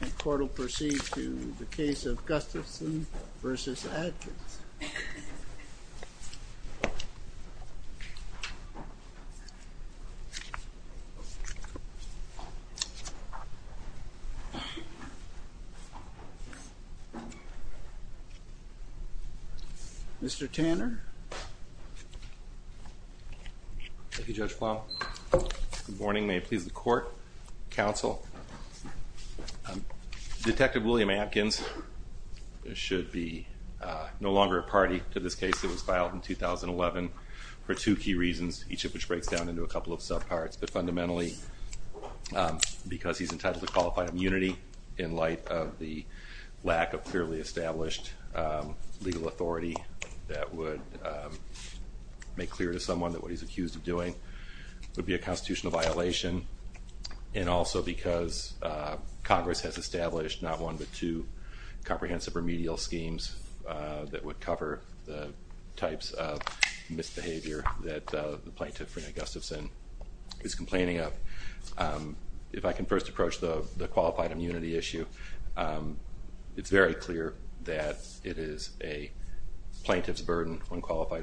The court will proceed to the case of Gustafson v. Adkins. Mr. Tanner. Thank you, Judge Plowman. Good morning. May it please the court, counsel, detective William Adkins should be no longer a party to this case that was filed in 2011 for two key reasons, each of which breaks down into a couple of subparts, but fundamentally because he's entitled to qualified immunity in light of the lack of clearly established legal authority that would make clear to someone that what he's accused of doing would be a constitutional violation and also because Congress has established not one but two comprehensive remedial schemes that would cover the types of misbehavior that the plaintiff, Rene Gustafson, is complaining of. If I can first approach the qualified immunity issue, it's very clear that it is a plaintiff's burden when qualified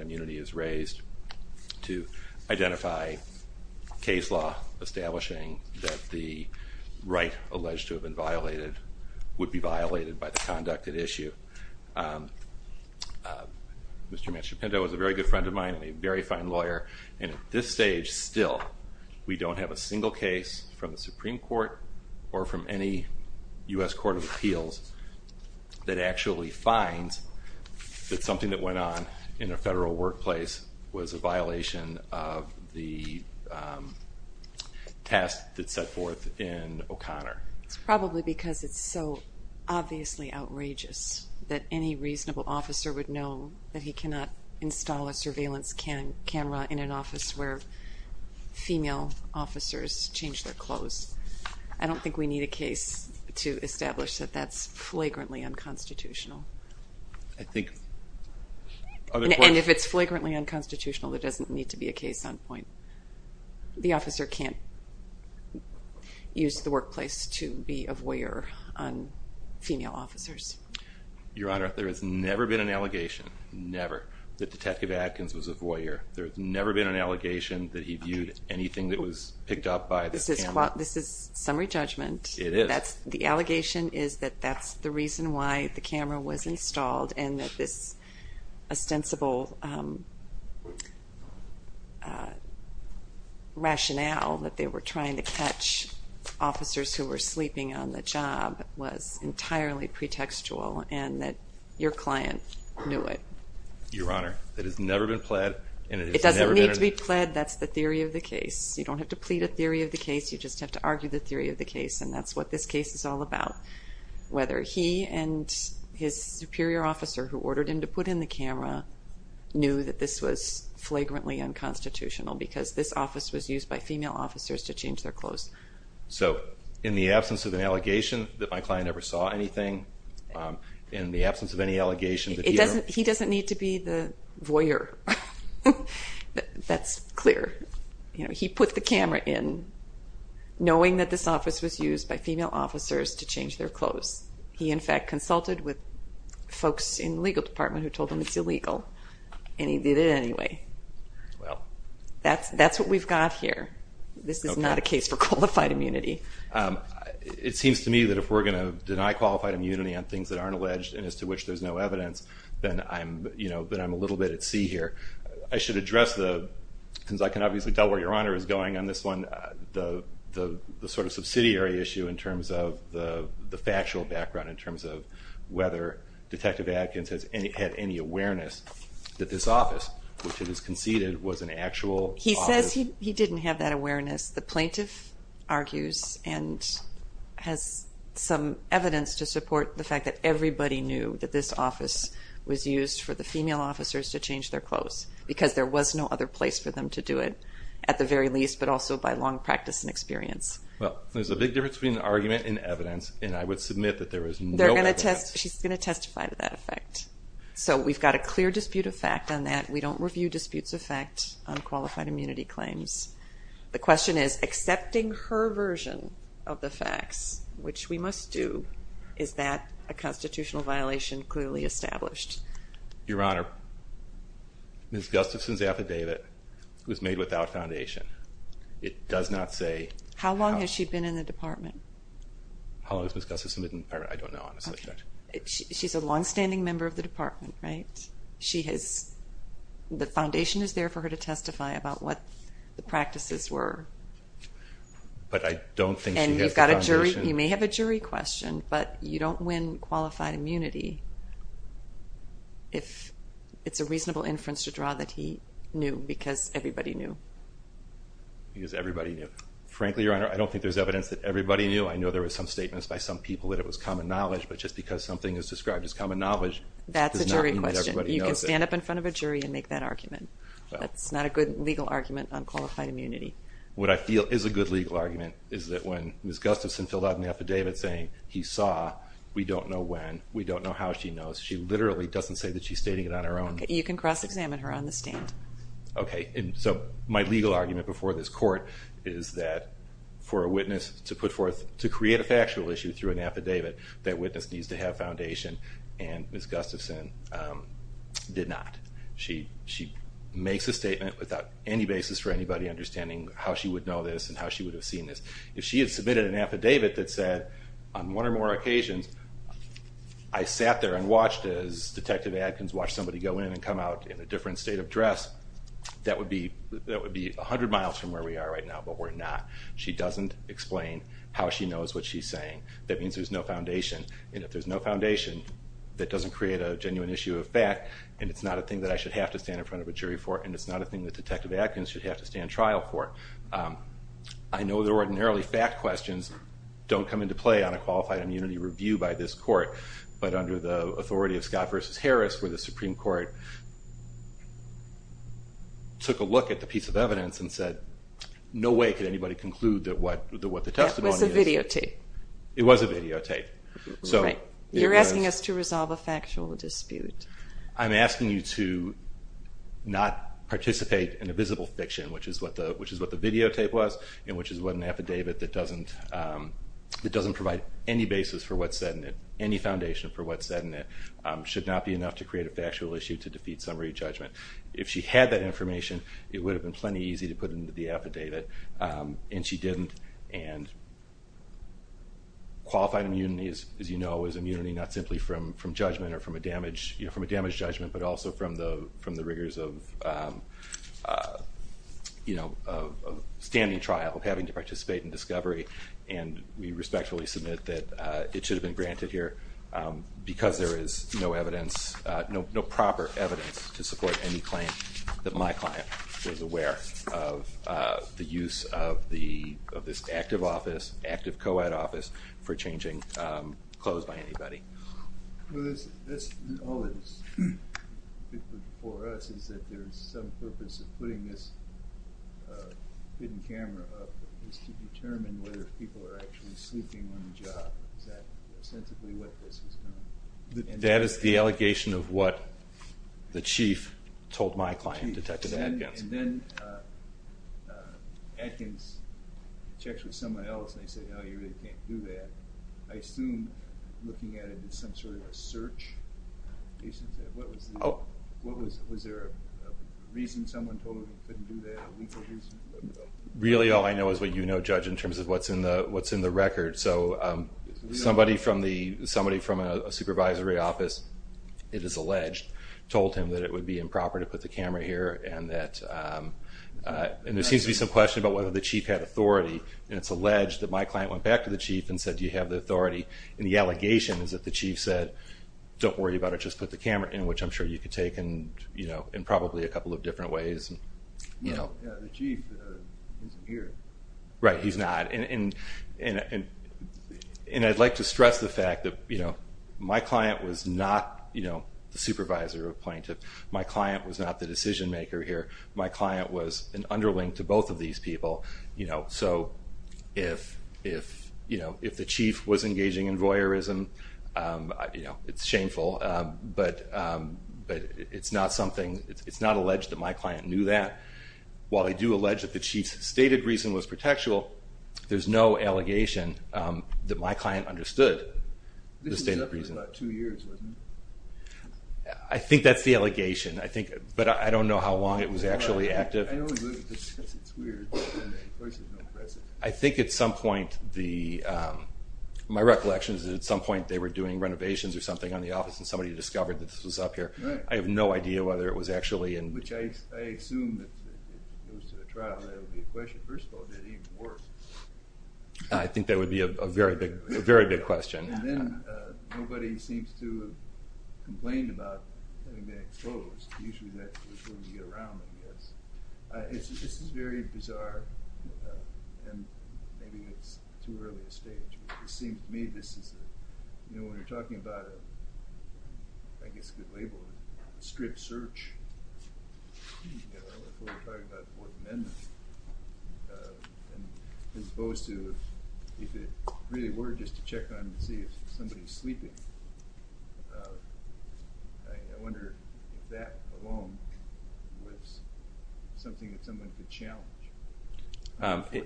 establishing that the right alleged to have been violated would be violated by the conducted issue. Mr. Manchepinto was a very good friend of mine and a very fine lawyer and at this stage still we don't have a single case from the Supreme Court or from any U.S. Court of Appeals that actually finds that something that went on in a federal workplace was a violation of the task that's set forth in O'Connor. It's probably because it's so obviously outrageous that any reasonable officer would know that he cannot install a surveillance camera in an office where female officers change their clothes. I don't think we need a case to and if it's flagrantly unconstitutional there doesn't need to be a case on point. The officer can't use the workplace to be a voyeur on female officers. Your Honor, there has never been an allegation, never, that Detective Adkins was a voyeur. There's never been an allegation that he viewed anything that was picked up by the camera. This is summary judgment. It is. The allegation is that that's the ostensible rationale that they were trying to catch officers who were sleeping on the job was entirely pretextual and that your client knew it. Your Honor, it has never been pled. It doesn't need to be pled, that's the theory of the case. You don't have to plead a theory of the case, you just have to argue the theory of the case and that's what this case is all about. Whether he and his superior officer who ordered him to put in the camera knew that this was flagrantly unconstitutional because this office was used by female officers to change their clothes. So in the absence of an allegation that my client never saw anything, in the absence of any allegations... He doesn't need to be the voyeur. That's clear. You know, he put the camera in knowing that this office was used by female officers to change their clothes. He, in fact, consulted with folks in the legal department who told him it's illegal and he did it anyway. That's what we've got here. This is not a case for qualified immunity. It seems to me that if we're going to deny qualified immunity on things that aren't alleged and as to which there's no evidence, then I'm a little bit at sea here. I should address, since I can obviously tell where Your Honor is going on this one, the sort of subsidiary issue in terms of the factual background in terms of whether Detective Adkins had any awareness that this office, which it is conceded was an actual office. He says he didn't have that awareness. The plaintiff argues and has some evidence to support the fact that everybody knew that this office was used for the female officers to change their clothes because there was no other place for them to do it, at the very least, but also by long practice and experience. Well, there's a big difference between argument and evidence and I would submit that there is no evidence. She's going to testify to that effect. So we've got a clear dispute of fact on that. We don't review disputes of fact on qualified immunity claims. The question is, accepting her version of the facts, which we must do, is that a constitutional violation clearly established? Your Honor, Ms. Gustafson's affidavit was made without foundation. It does not say... How long has she been in the department? How long has Ms. Gustafson been in the department? I don't know on the subject. She's a long-standing member of the department, right? She has... the foundation is there for her to testify about what the practices were. But I don't think she has the foundation... And you may have a jury question, but you don't win qualified immunity if it's a reasonable inference to draw that he knew, because everybody knew. Because everybody knew. Frankly, Your Honor, I don't think there's evidence that everybody knew. I know there were some statements by some people that it was common knowledge, but just because something is described as common knowledge... That's a jury question. You can stand up in front of a jury and make that argument. That's not a good legal argument on qualified immunity. What I feel is a good legal argument is that when Ms. Gustafson filled out an affidavit saying he saw, we don't know when, we don't know how she knows, she literally doesn't say that she's stating it on her own. You can cross-examine her on the stand. Okay, and so my legal argument before this court is that for a witness to put forth... to create a factual issue through an affidavit, that witness needs to have foundation, and Ms. Gustafson did not. She makes a statement without any basis for anybody understanding how she would know this and how she would have seen this. If she had submitted an affidavit that said, on one or more occasions, I sat there and watched as Detective Adkins watched somebody go in and come out in a different state of dress, that would be a hundred miles from where we are right now, but we're not. She doesn't explain how she knows what she's saying. That means there's no foundation, and if there's no foundation, that doesn't create a genuine issue of fact, and it's not a thing that I should have to stand in front of a jury for, and it's not a thing that Detective Adkins should have to stand trial for. I know that ordinarily fact questions don't come into play on a qualified immunity review by this court, but under the authority of Scott v. Harris, where the Supreme Court took a look at the piece of evidence and said, no way could anybody conclude that what the testimony is... It was a videotape. It was a videotape. You're asking us to resolve a factual dispute. I'm asking you to not participate in a visible fiction, which is what the videotape was, and which is what an affidavit that doesn't provide any basis for what's said in it, any foundation for what's said in it, should not be enough to create a factual issue to defeat summary judgment. If she had that information, it would have been plenty easy to put into the affidavit, and she didn't, and qualified immunity, as you know, is immunity not simply from judgment or from a damaged judgment, but also from the rigors of standing trial, of having to participate in discovery, and we respectfully submit that it should have been granted here because there is no evidence, no proper evidence to support any claim that my client was aware of the use of this active office, active co-ed office, for changing clothes by anybody. Well, that's all that's for us is that there's some purpose of putting this hidden camera up is to determine whether people are actually sleeping on the job. Is that ostensibly what this is going to... That is the allegation of what the chief told my client, Detective Adkins. And then Adkins checks with someone else and they say, oh, you really can't do that. I assume looking at it, it's some sort of a search. What was the reason someone told him he couldn't do that? Really all I know is what you know, Judge, in terms of what's in the record. So somebody from a supervisory office, it is alleged, told him that it would be improper to put the camera here and that... And there seems to be some question about whether the chief had authority, and it's alleged that my client went back to the chief and said, do you have the authority? And the allegation is that the chief said, don't worry about it, just put the camera in, which I'm sure you could take in probably a couple of different ways. Yeah, the chief isn't here. Right, he's not. And I'd like to stress the fact that my client was not the supervisor or plaintiff. My client was not the decision maker here. My client was an underling to both of these people. So if the chief was engaging in voyeurism, it's shameful. But it's not something... It's not alleged that my client knew that. While I do allege that the chief's stated reason was protectual, there's no allegation that my client understood the stated reason. This was up for about two years, wasn't it? I think that's the allegation. But I don't know how long it was actually active. I don't either, because it's weird. I think at some point, my recollection is that at some point they were doing renovations or something on the office and somebody discovered that this was up here. I have no idea whether it was actually... I assume that if it goes to the trial, that would be a question. First of all, did it even work? I think that would be a very big question. And then nobody seems to have complained about having been exposed. Usually that was when we get around, I guess. This is very bizarre. And maybe it's too early to stage. It seems to me this is... You know, when you're talking about a, I guess a good label, a stripped search, before you're talking about the Fourth Amendment, as opposed to if it really were just to check on and see if somebody's sleeping, I wonder if that alone was something that someone could challenge.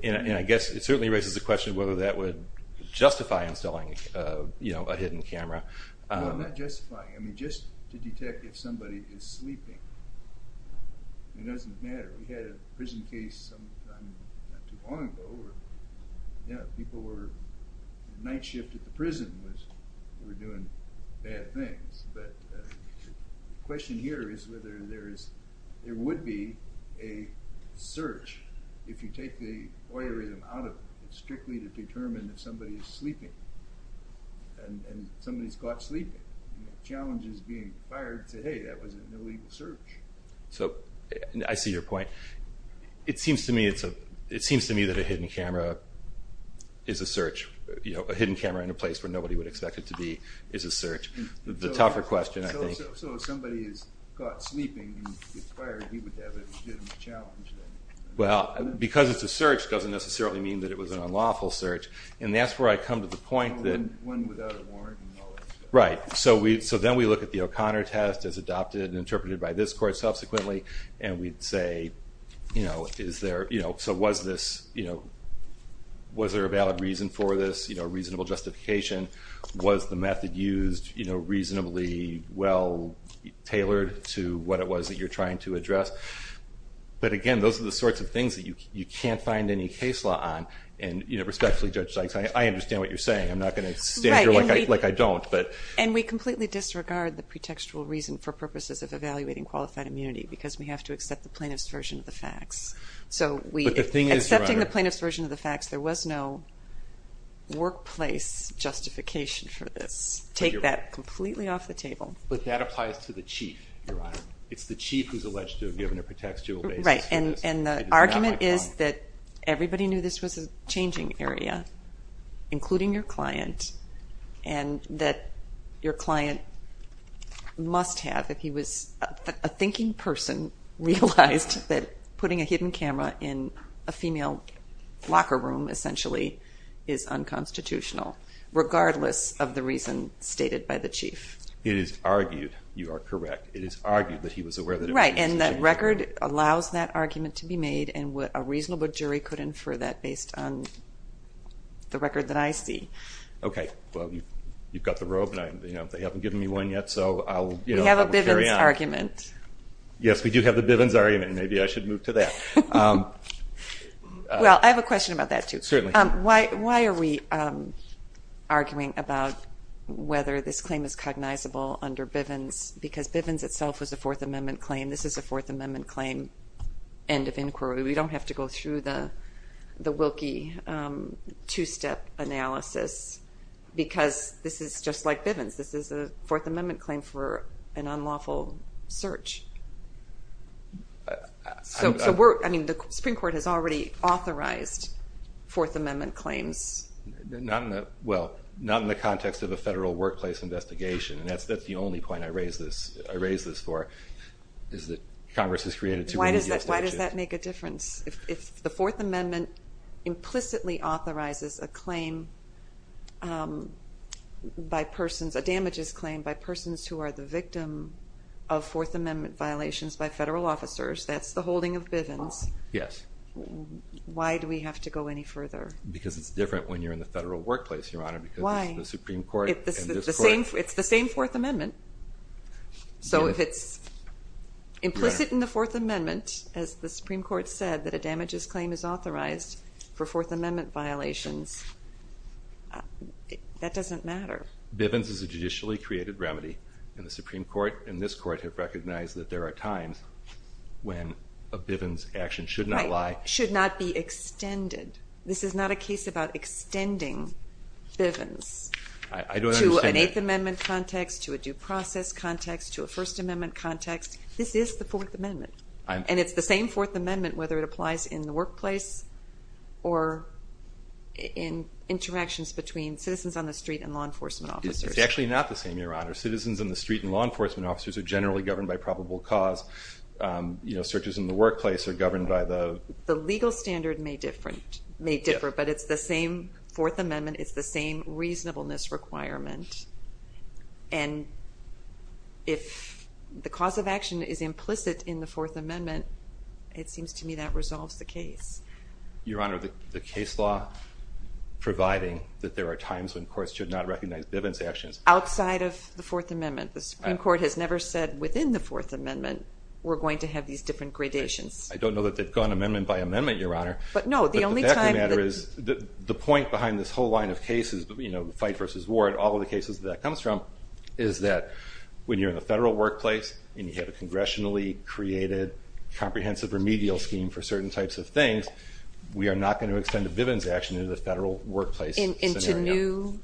And I guess it certainly raises the question whether that would justify installing a hidden camera. No, not justifying. I mean, just to detect if somebody is sleeping. It doesn't matter. We had a prison case sometime not too long ago. Yeah, people were... The night shift at the prison was... They were doing bad things. But the question here is whether there is... There would be a search, if you take the voyeurism out of it, and somebody's caught sleeping. The challenge is being fired to say, hey, that was an illegal search. So, I see your point. It seems to me it's a... It seems to me that a hidden camera is a search. A hidden camera in a place where nobody would expect it to be is a search. The tougher question, I think... So if somebody is caught sleeping and gets fired, he would have a challenge then? Well, because it's a search doesn't necessarily mean that it was an unlawful search. And that's where I come to the point that... One without a warrant and all that stuff. Right. So then we look at the O'Connor test as adopted and interpreted by this court subsequently. And we'd say, is there... So was this... Was there a valid reason for this? A reasonable justification? Was the method used reasonably well tailored to what it was that you're trying to address? But again, those are the sorts of things that you can't find any case law on. Respectfully, Judge Sykes, I understand what you're saying. I'm not going to stand here like I don't. And we completely disregard the pretextual reason for purposes of evaluating qualified immunity because we have to accept the plaintiff's version of the facts. But the thing is, Your Honor... Accepting the plaintiff's version of the facts, there was no workplace justification for this. Take that completely off the table. But that applies to the chief, Your Honor. It's the chief who's alleged to have given a pretextual basis. Right. And the argument is that everybody knew this was a changing area, including your client, and that your client must have, if he was a thinking person, realized that putting a hidden camera in a female locker room essentially is unconstitutional, regardless of the reason stated by the chief. It is argued, you are correct, it is argued that he was aware... Right. And that record allows that argument to be inferred based on the record that I see. Okay. Well, you've got the robe, and they haven't given me one yet, so I'll carry on. We have a Bivens argument. Yes, we do have the Bivens argument. Maybe I should move to that. Well, I have a question about that, too. Certainly. Why are we arguing about whether this claim is cognizable under Bivens? Because Bivens itself was a Fourth Amendment claim. This is a Fourth Amendment claim. End of inquiry. We don't have to go through the Wilkie two-step analysis, because this is just like Bivens. This is a Fourth Amendment claim for an unlawful search. So the Supreme Court has already authorized Fourth Amendment claims. Well, not in the context of a federal workplace investigation, and that's the only point I raise this for, is that Congress has So, why does that make a difference? If the Fourth Amendment implicitly authorizes a claim by persons, a damages claim by persons who are the victim of Fourth Amendment violations by federal officers, that's the holding of Bivens. Yes. Why do we have to go any further? Because it's different when you're in the federal Supreme Court said that a damages claim is authorized for Fourth Amendment violations. That doesn't matter. Bivens is a judicially created remedy, and the Supreme Court and this Court have recognized that there are times when a Bivens action should not be extended. This is not a case about extending Bivens to an Eighth Amendment context, to a due process context, to a First Amendment context. This is the Fourth Amendment. And it's the same Fourth Amendment whether it applies in the workplace or in interactions between citizens on the street and law enforcement officers. It's actually not the same, Your Honor. Citizens on the street and law enforcement officers are generally governed by probable cause. Searches in the workplace are governed by the The legal standard may differ, but it's the same Fourth Amendment, it's the same reasonableness requirement. And if the cause of action is implicit in the Fourth Amendment, it seems to me that resolves the case. Your Honor, the case law providing that there are times when courts should not recognize Bivens actions Outside of the Fourth Amendment. The Supreme Court has never said within the Fourth Amendment, we're going to have these different gradations. I don't know that they've gone amendment by amendment, Your Honor. But no, the only time The fact of the matter is, the point behind this whole line of cases, you know, fight versus ward, all of the cases that that comes from, is that when you're in the federal workplace and you have a congressionally created comprehensive remedial scheme for certain types of things, we are not going to extend a Bivens action into the federal workplace scenario. Into new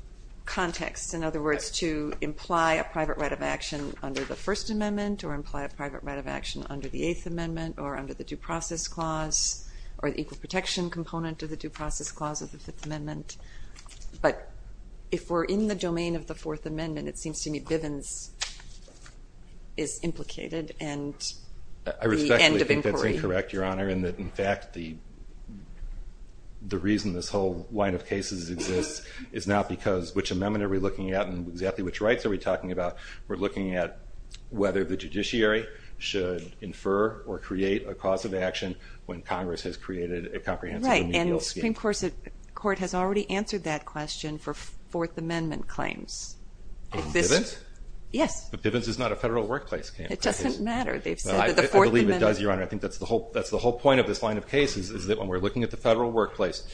contexts, in other words to imply a private right of action under the First Amendment or imply a private right of action under the Eighth Amendment or under the Due Process Clause or the Equal Protection Component of the Due Process Clause of the Fifth Amendment. But if we're in the domain of the Fourth Amendment, it seems to me Bivens is implicated and the end of inquiry. I respectfully think that's incorrect, Your Honor, and that in fact the reason this whole line of cases exists is not because which amendment are we looking at and exactly which rights are we talking about. We're looking at whether the judiciary should infer or create a cause of action when Congress has created a comprehensive remedial scheme. And the Supreme Court has already answered that question for Fourth Amendment claims. On Bivens? Yes. But Bivens is not a federal workplace case. It doesn't matter. I believe it does, Your Honor. I think that's the whole point of this line of cases is that when we're looking at the federal workplace,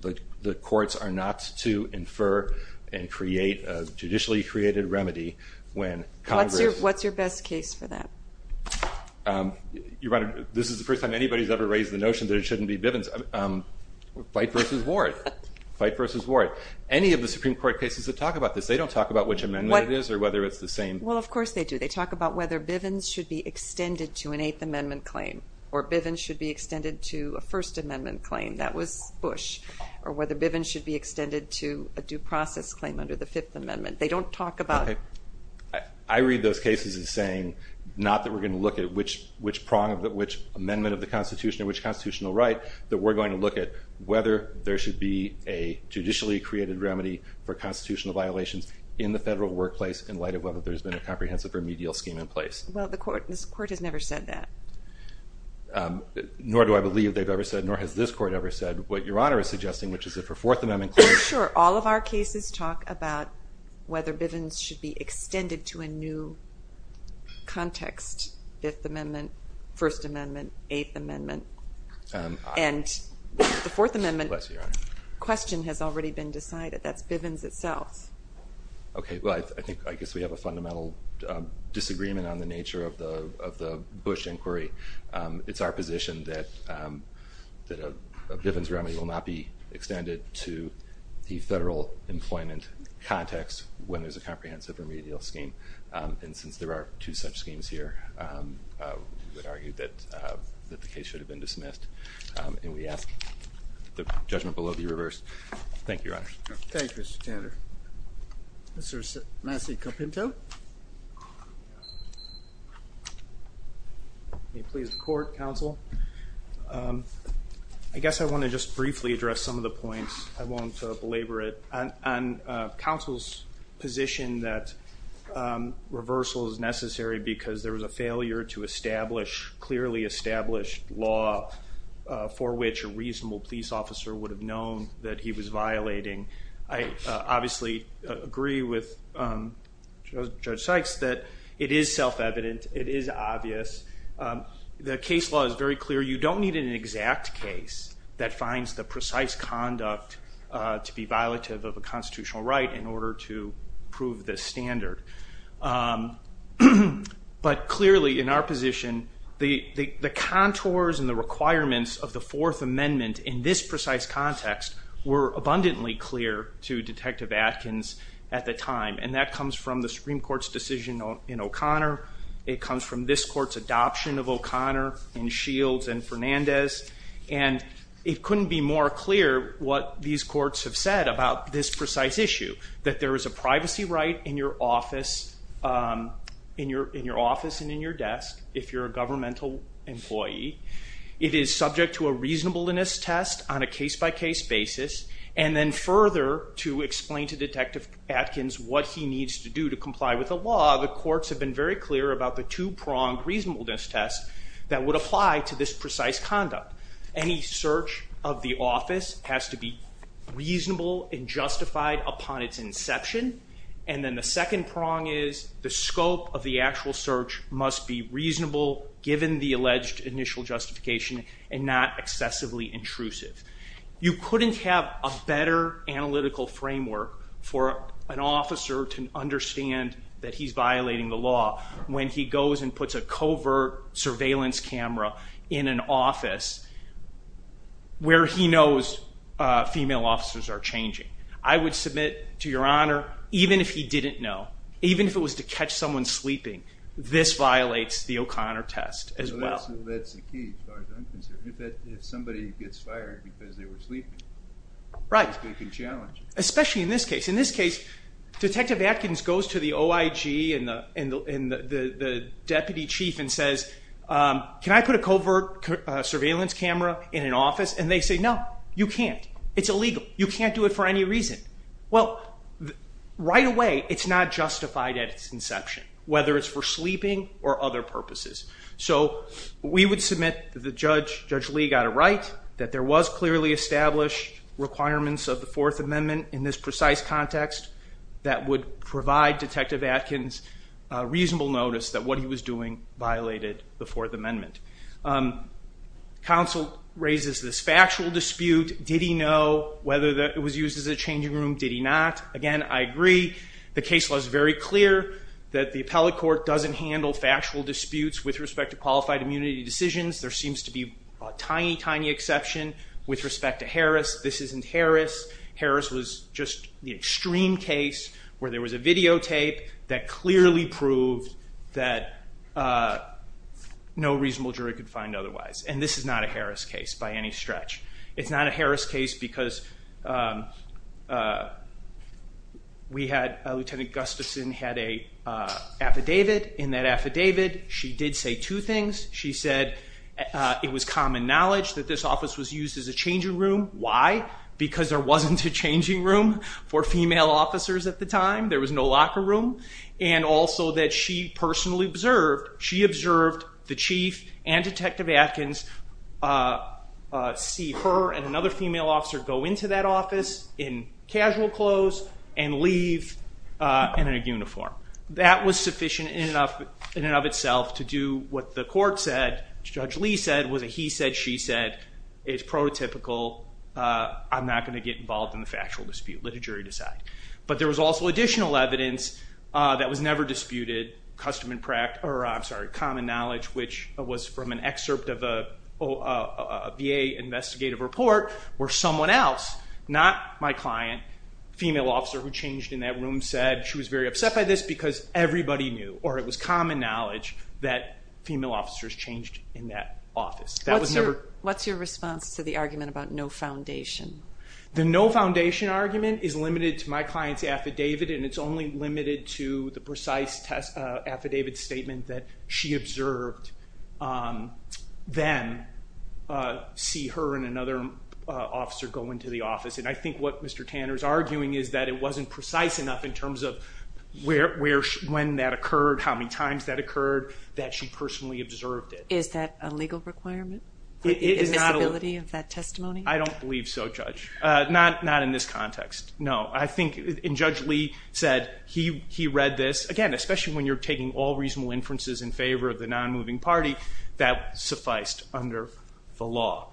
the courts are not to infer and create a judicially created remedy when Congress What's your best case for that? Your Honor, this is the first time anybody's ever raised the notion that it shouldn't be Bivens. Fight versus Ward. Fight versus Ward. Any of the Supreme Court cases that talk about this, they don't talk about which amendment it is or whether it's the same. Well, of course they do. They talk about whether Bivens should be extended to an Eighth Amendment claim or Bivens should be extended to a First Amendment claim. That was Bush. Or whether Bivens should be extended to a due process claim under the Fifth Amendment. They don't talk about I read those cases as saying not that we're going to look at which prong, which amendment of the Constitution, or which constitutional right that we're going to look at whether there should be a judicially created remedy for constitutional violations in the federal workplace in light of whether there's been a comprehensive remedial scheme in place. Well, this Court has never said that. Nor do I believe they've ever said, nor has this Court ever said what Your Honor is suggesting, which is that for Fourth Amendment Sure, all of our cases talk about whether Bivens should be extended to a new context. Fifth Amendment, First Amendment, Eighth Amendment and the Fourth Amendment question has already been decided. That's Bivens itself. Okay, well I guess we have a fundamental disagreement on the nature of the Bush inquiry. It's our position that a Bivens remedy will not be extended to the federal employment context when there's a comprehensive remedial scheme. And since there are two such schemes here, we would argue that the case should have been dismissed. And we ask the judgment below be reversed. Thank you, Your Honor. Thank you, Mr. Tanner. Mr. Massi Capinto. May it please the Court, Counsel. I guess I want to just briefly address some of the points. I won't belabor it. On Counsel's position that reversal is necessary because there was a failure to establish clearly established law for which a reasonable police officer would have known that he was violating. I obviously agree with Judge Sykes that it is self-evident. It is obvious. The case law is very clear. You don't need an exact case that finds the precise conduct to be violative of a constitutional right in order to prove the standard. But clearly in our position, the contours and the requirements of the Fourth Amendment in this precise context were abundantly clear to Detective Atkins at the time. And that comes from the Supreme Court's decision in O'Connor. It comes from this Court's adoption of O'Connor in Shields and Fernandez. And it couldn't be more clear what these courts have said about this precise issue. That there is a privacy right in your office and in your desk if you're a governmental employee. It is subject to a reasonableness test on a case-by-case basis. And then further to explain to Detective Atkins what he needs to do to comply with the law, the courts have been very clear about the two-pronged reasonableness test that would apply to this precise conduct. Any search of the office has to be reasonable and justified upon its inception. And then the second prong is the scope of the actual search must be reasonable given the alleged initial justification and not excessively intrusive. You couldn't have a better analytical framework for an officer to understand that he's violating the law when he goes and puts a covert surveillance camera in an office where he can't. I would submit to Your Honor, even if he didn't know, even if it was to catch someone sleeping, this violates the O'Connor test as well. That's the key as far as I'm concerned. If somebody gets fired because they were sleeping, that's a big challenge. Especially in this case. In this case Detective Atkins goes to the OIG and the deputy chief and says, can I put a covert surveillance camera in an office? And they say, no, you can't. It's illegal. You can't do it for any reason. Well, right away it's not justified at its inception. Whether it's for sleeping or other purposes. We would submit that Judge Lee got it right, that there was clearly established requirements of the Fourth Amendment in this precise context that would provide Detective Atkins reasonable notice that what he was doing violated the Fourth Amendment. Counsel raises this factual dispute. Did he know whether it was used as a changing room? Did he not? Again, I agree. The case law is very clear that the appellate court doesn't handle factual disputes with respect to qualified immunity decisions. There seems to be a tiny, tiny exception with respect to Harris. This isn't Harris. Harris was just the extreme case where there was a videotape that clearly proved that no reasonable jury could find otherwise. And this is not a Harris case by any stretch. It's not a Harris case because Lieutenant Gustafson had an affidavit. In that affidavit, she did say two things. She said it was common knowledge that this office was used as a changing room. Why? Because there wasn't a changing room for female officers at the time. There was no locker room. And also that she personally observed, she observed the chief and Detective Atkins see her and another female officer go into that office in casual clothes and leave in a uniform. That was sufficient in and of itself to do what the court said, Judge Lee said, was a he-said-she-said. It's prototypical. I'm not going to get involved in the factual dispute. Let the jury decide. But there was also additional evidence that was never disputed. Common knowledge, which was from an excerpt of a VA investigative report, where someone else, not my client, female officer who changed in that room said she was very upset by this because everybody knew, or it was common knowledge that female officers changed in that office. What's your response to the argument about no foundation? The no foundation argument is limited to my client's affidavit and it's only limited to the precise affidavit statement that she observed them see her and another officer go into the office. And I think what Mr. Tanner is arguing is that it wasn't precise enough in terms of when that occurred, how many times that occurred, that she personally observed it. Is that a legal requirement? The admissibility of that testimony? I don't believe so, Judge. Not in this context. No. I think, and Judge Lee said, he read this, again especially when you're taking all reasonable inferences in favor of the non-moving party, that sufficed under the law.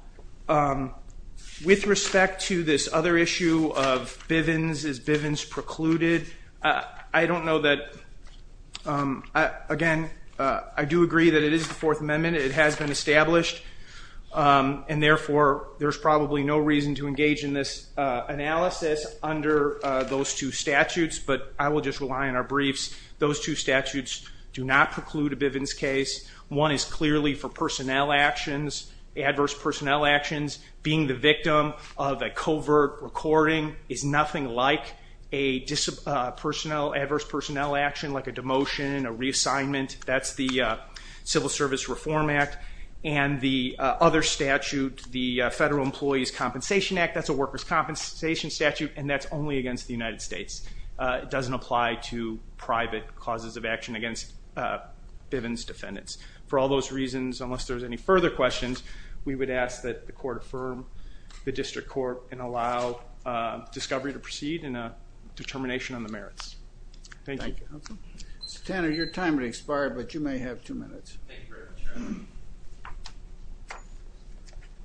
With respect to this other issue of Bivens, is Bivens precluded? I don't know that, again, I do agree that it is the Fourth Amendment. It has been established and therefore there's probably no reason to engage in this analysis under those two statutes, but I will just rely on our briefs. Those two statutes do not preclude a Bivens case. One is clearly for personnel actions, adverse personnel actions. Being the victim of a covert recording adverse personnel action, like a demotion, a reassignment. That's the Civil Rights Act. The other statute, the Federal Employees Compensation Act, that's a workers' compensation statute and that's only against the United States. It doesn't apply to private causes of action against Bivens defendants. For all those reasons, unless there's any further questions, we would ask that the court affirm the district court and allow discovery to proceed in a determination on the merits. Thank you. Thank you, counsel. Senator, your time has expired, but you may have two minutes. Thank you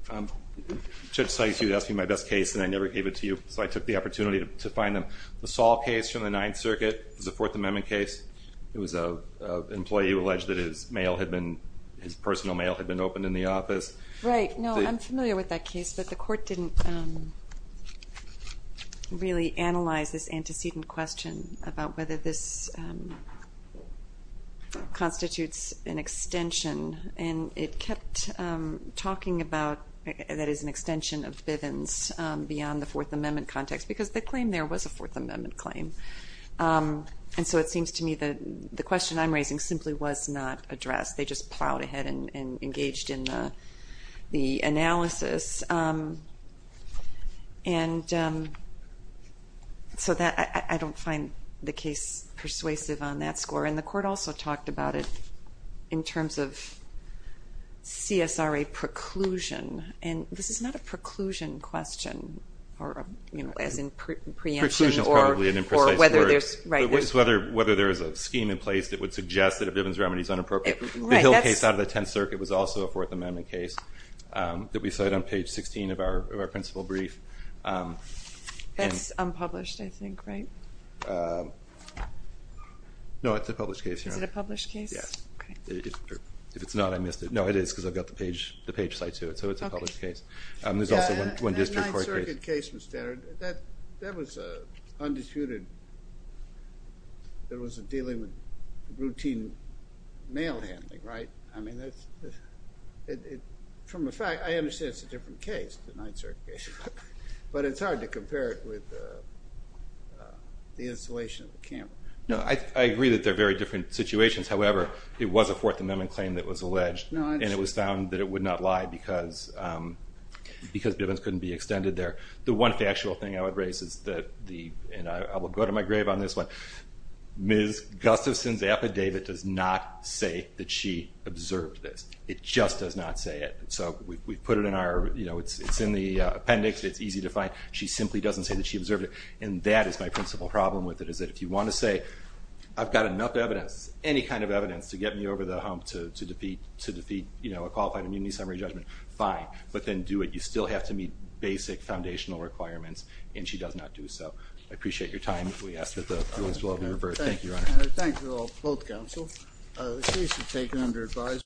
very much, Your Honor. Judge Sikes, you asked me my best case and I never gave it to you, so I took the opportunity to find them. The Saul case from the Ninth Circuit was a Fourth Amendment case. It was an employee who alleged that his mail had been, his personal mail had been opened in the office. Right. No, I'm familiar with that case, but the court didn't really analyze this antecedent question about whether this constitutes an extension and it kept talking about that is an extension of Bivens beyond the Fourth Amendment context because the claim there was a Fourth Amendment claim. And so it seems to me that the question I'm raising simply was not addressed. They just plowed ahead and engaged in the analysis. So I don't find the case persuasive on that score and the court also talked about it in terms of CSRA preclusion. And this is not a preclusion question as in preemption or whether there's a scheme in place that would suggest that a Bivens remedy is inappropriate. The Hill case out of the Tenth Circuit was also a Fourth Amendment case that we cite on page 16 of our principal brief. That's unpublished, I think, right? No, it's a published case. Is it a published case? Yes. If it's not, I missed it. No, it is because I've got the page cite to it, so it's a published case. There's also one district court case. That Ninth Circuit case, that was undisputed. There was a dealing with routine mail handling, right? From a fact, I understand it's a different case, the Ninth Circuit case. But it's hard to compare it with the installation of the camera. I agree that they're very different situations, however it was a Fourth Amendment claim that was alleged and it was found that it would not lie because Bivens couldn't be extended there. The one factual thing I would raise is that and I will go to my grave on this one, Ms. Gustafson's affidavit does not say that she observed this. It just does not say it. It's in the appendix. It's easy to find. She simply doesn't say that she observed it. If you want to say I've got enough evidence, any kind of evidence to get me over the hump to defeat a qualified immunity summary judgment, fine, but then do it. You still have to meet basic foundational requirements and she does not do so. I appreciate your time. Thank you, Your Honor. Thank you to both counsel. The case is taken under advisement.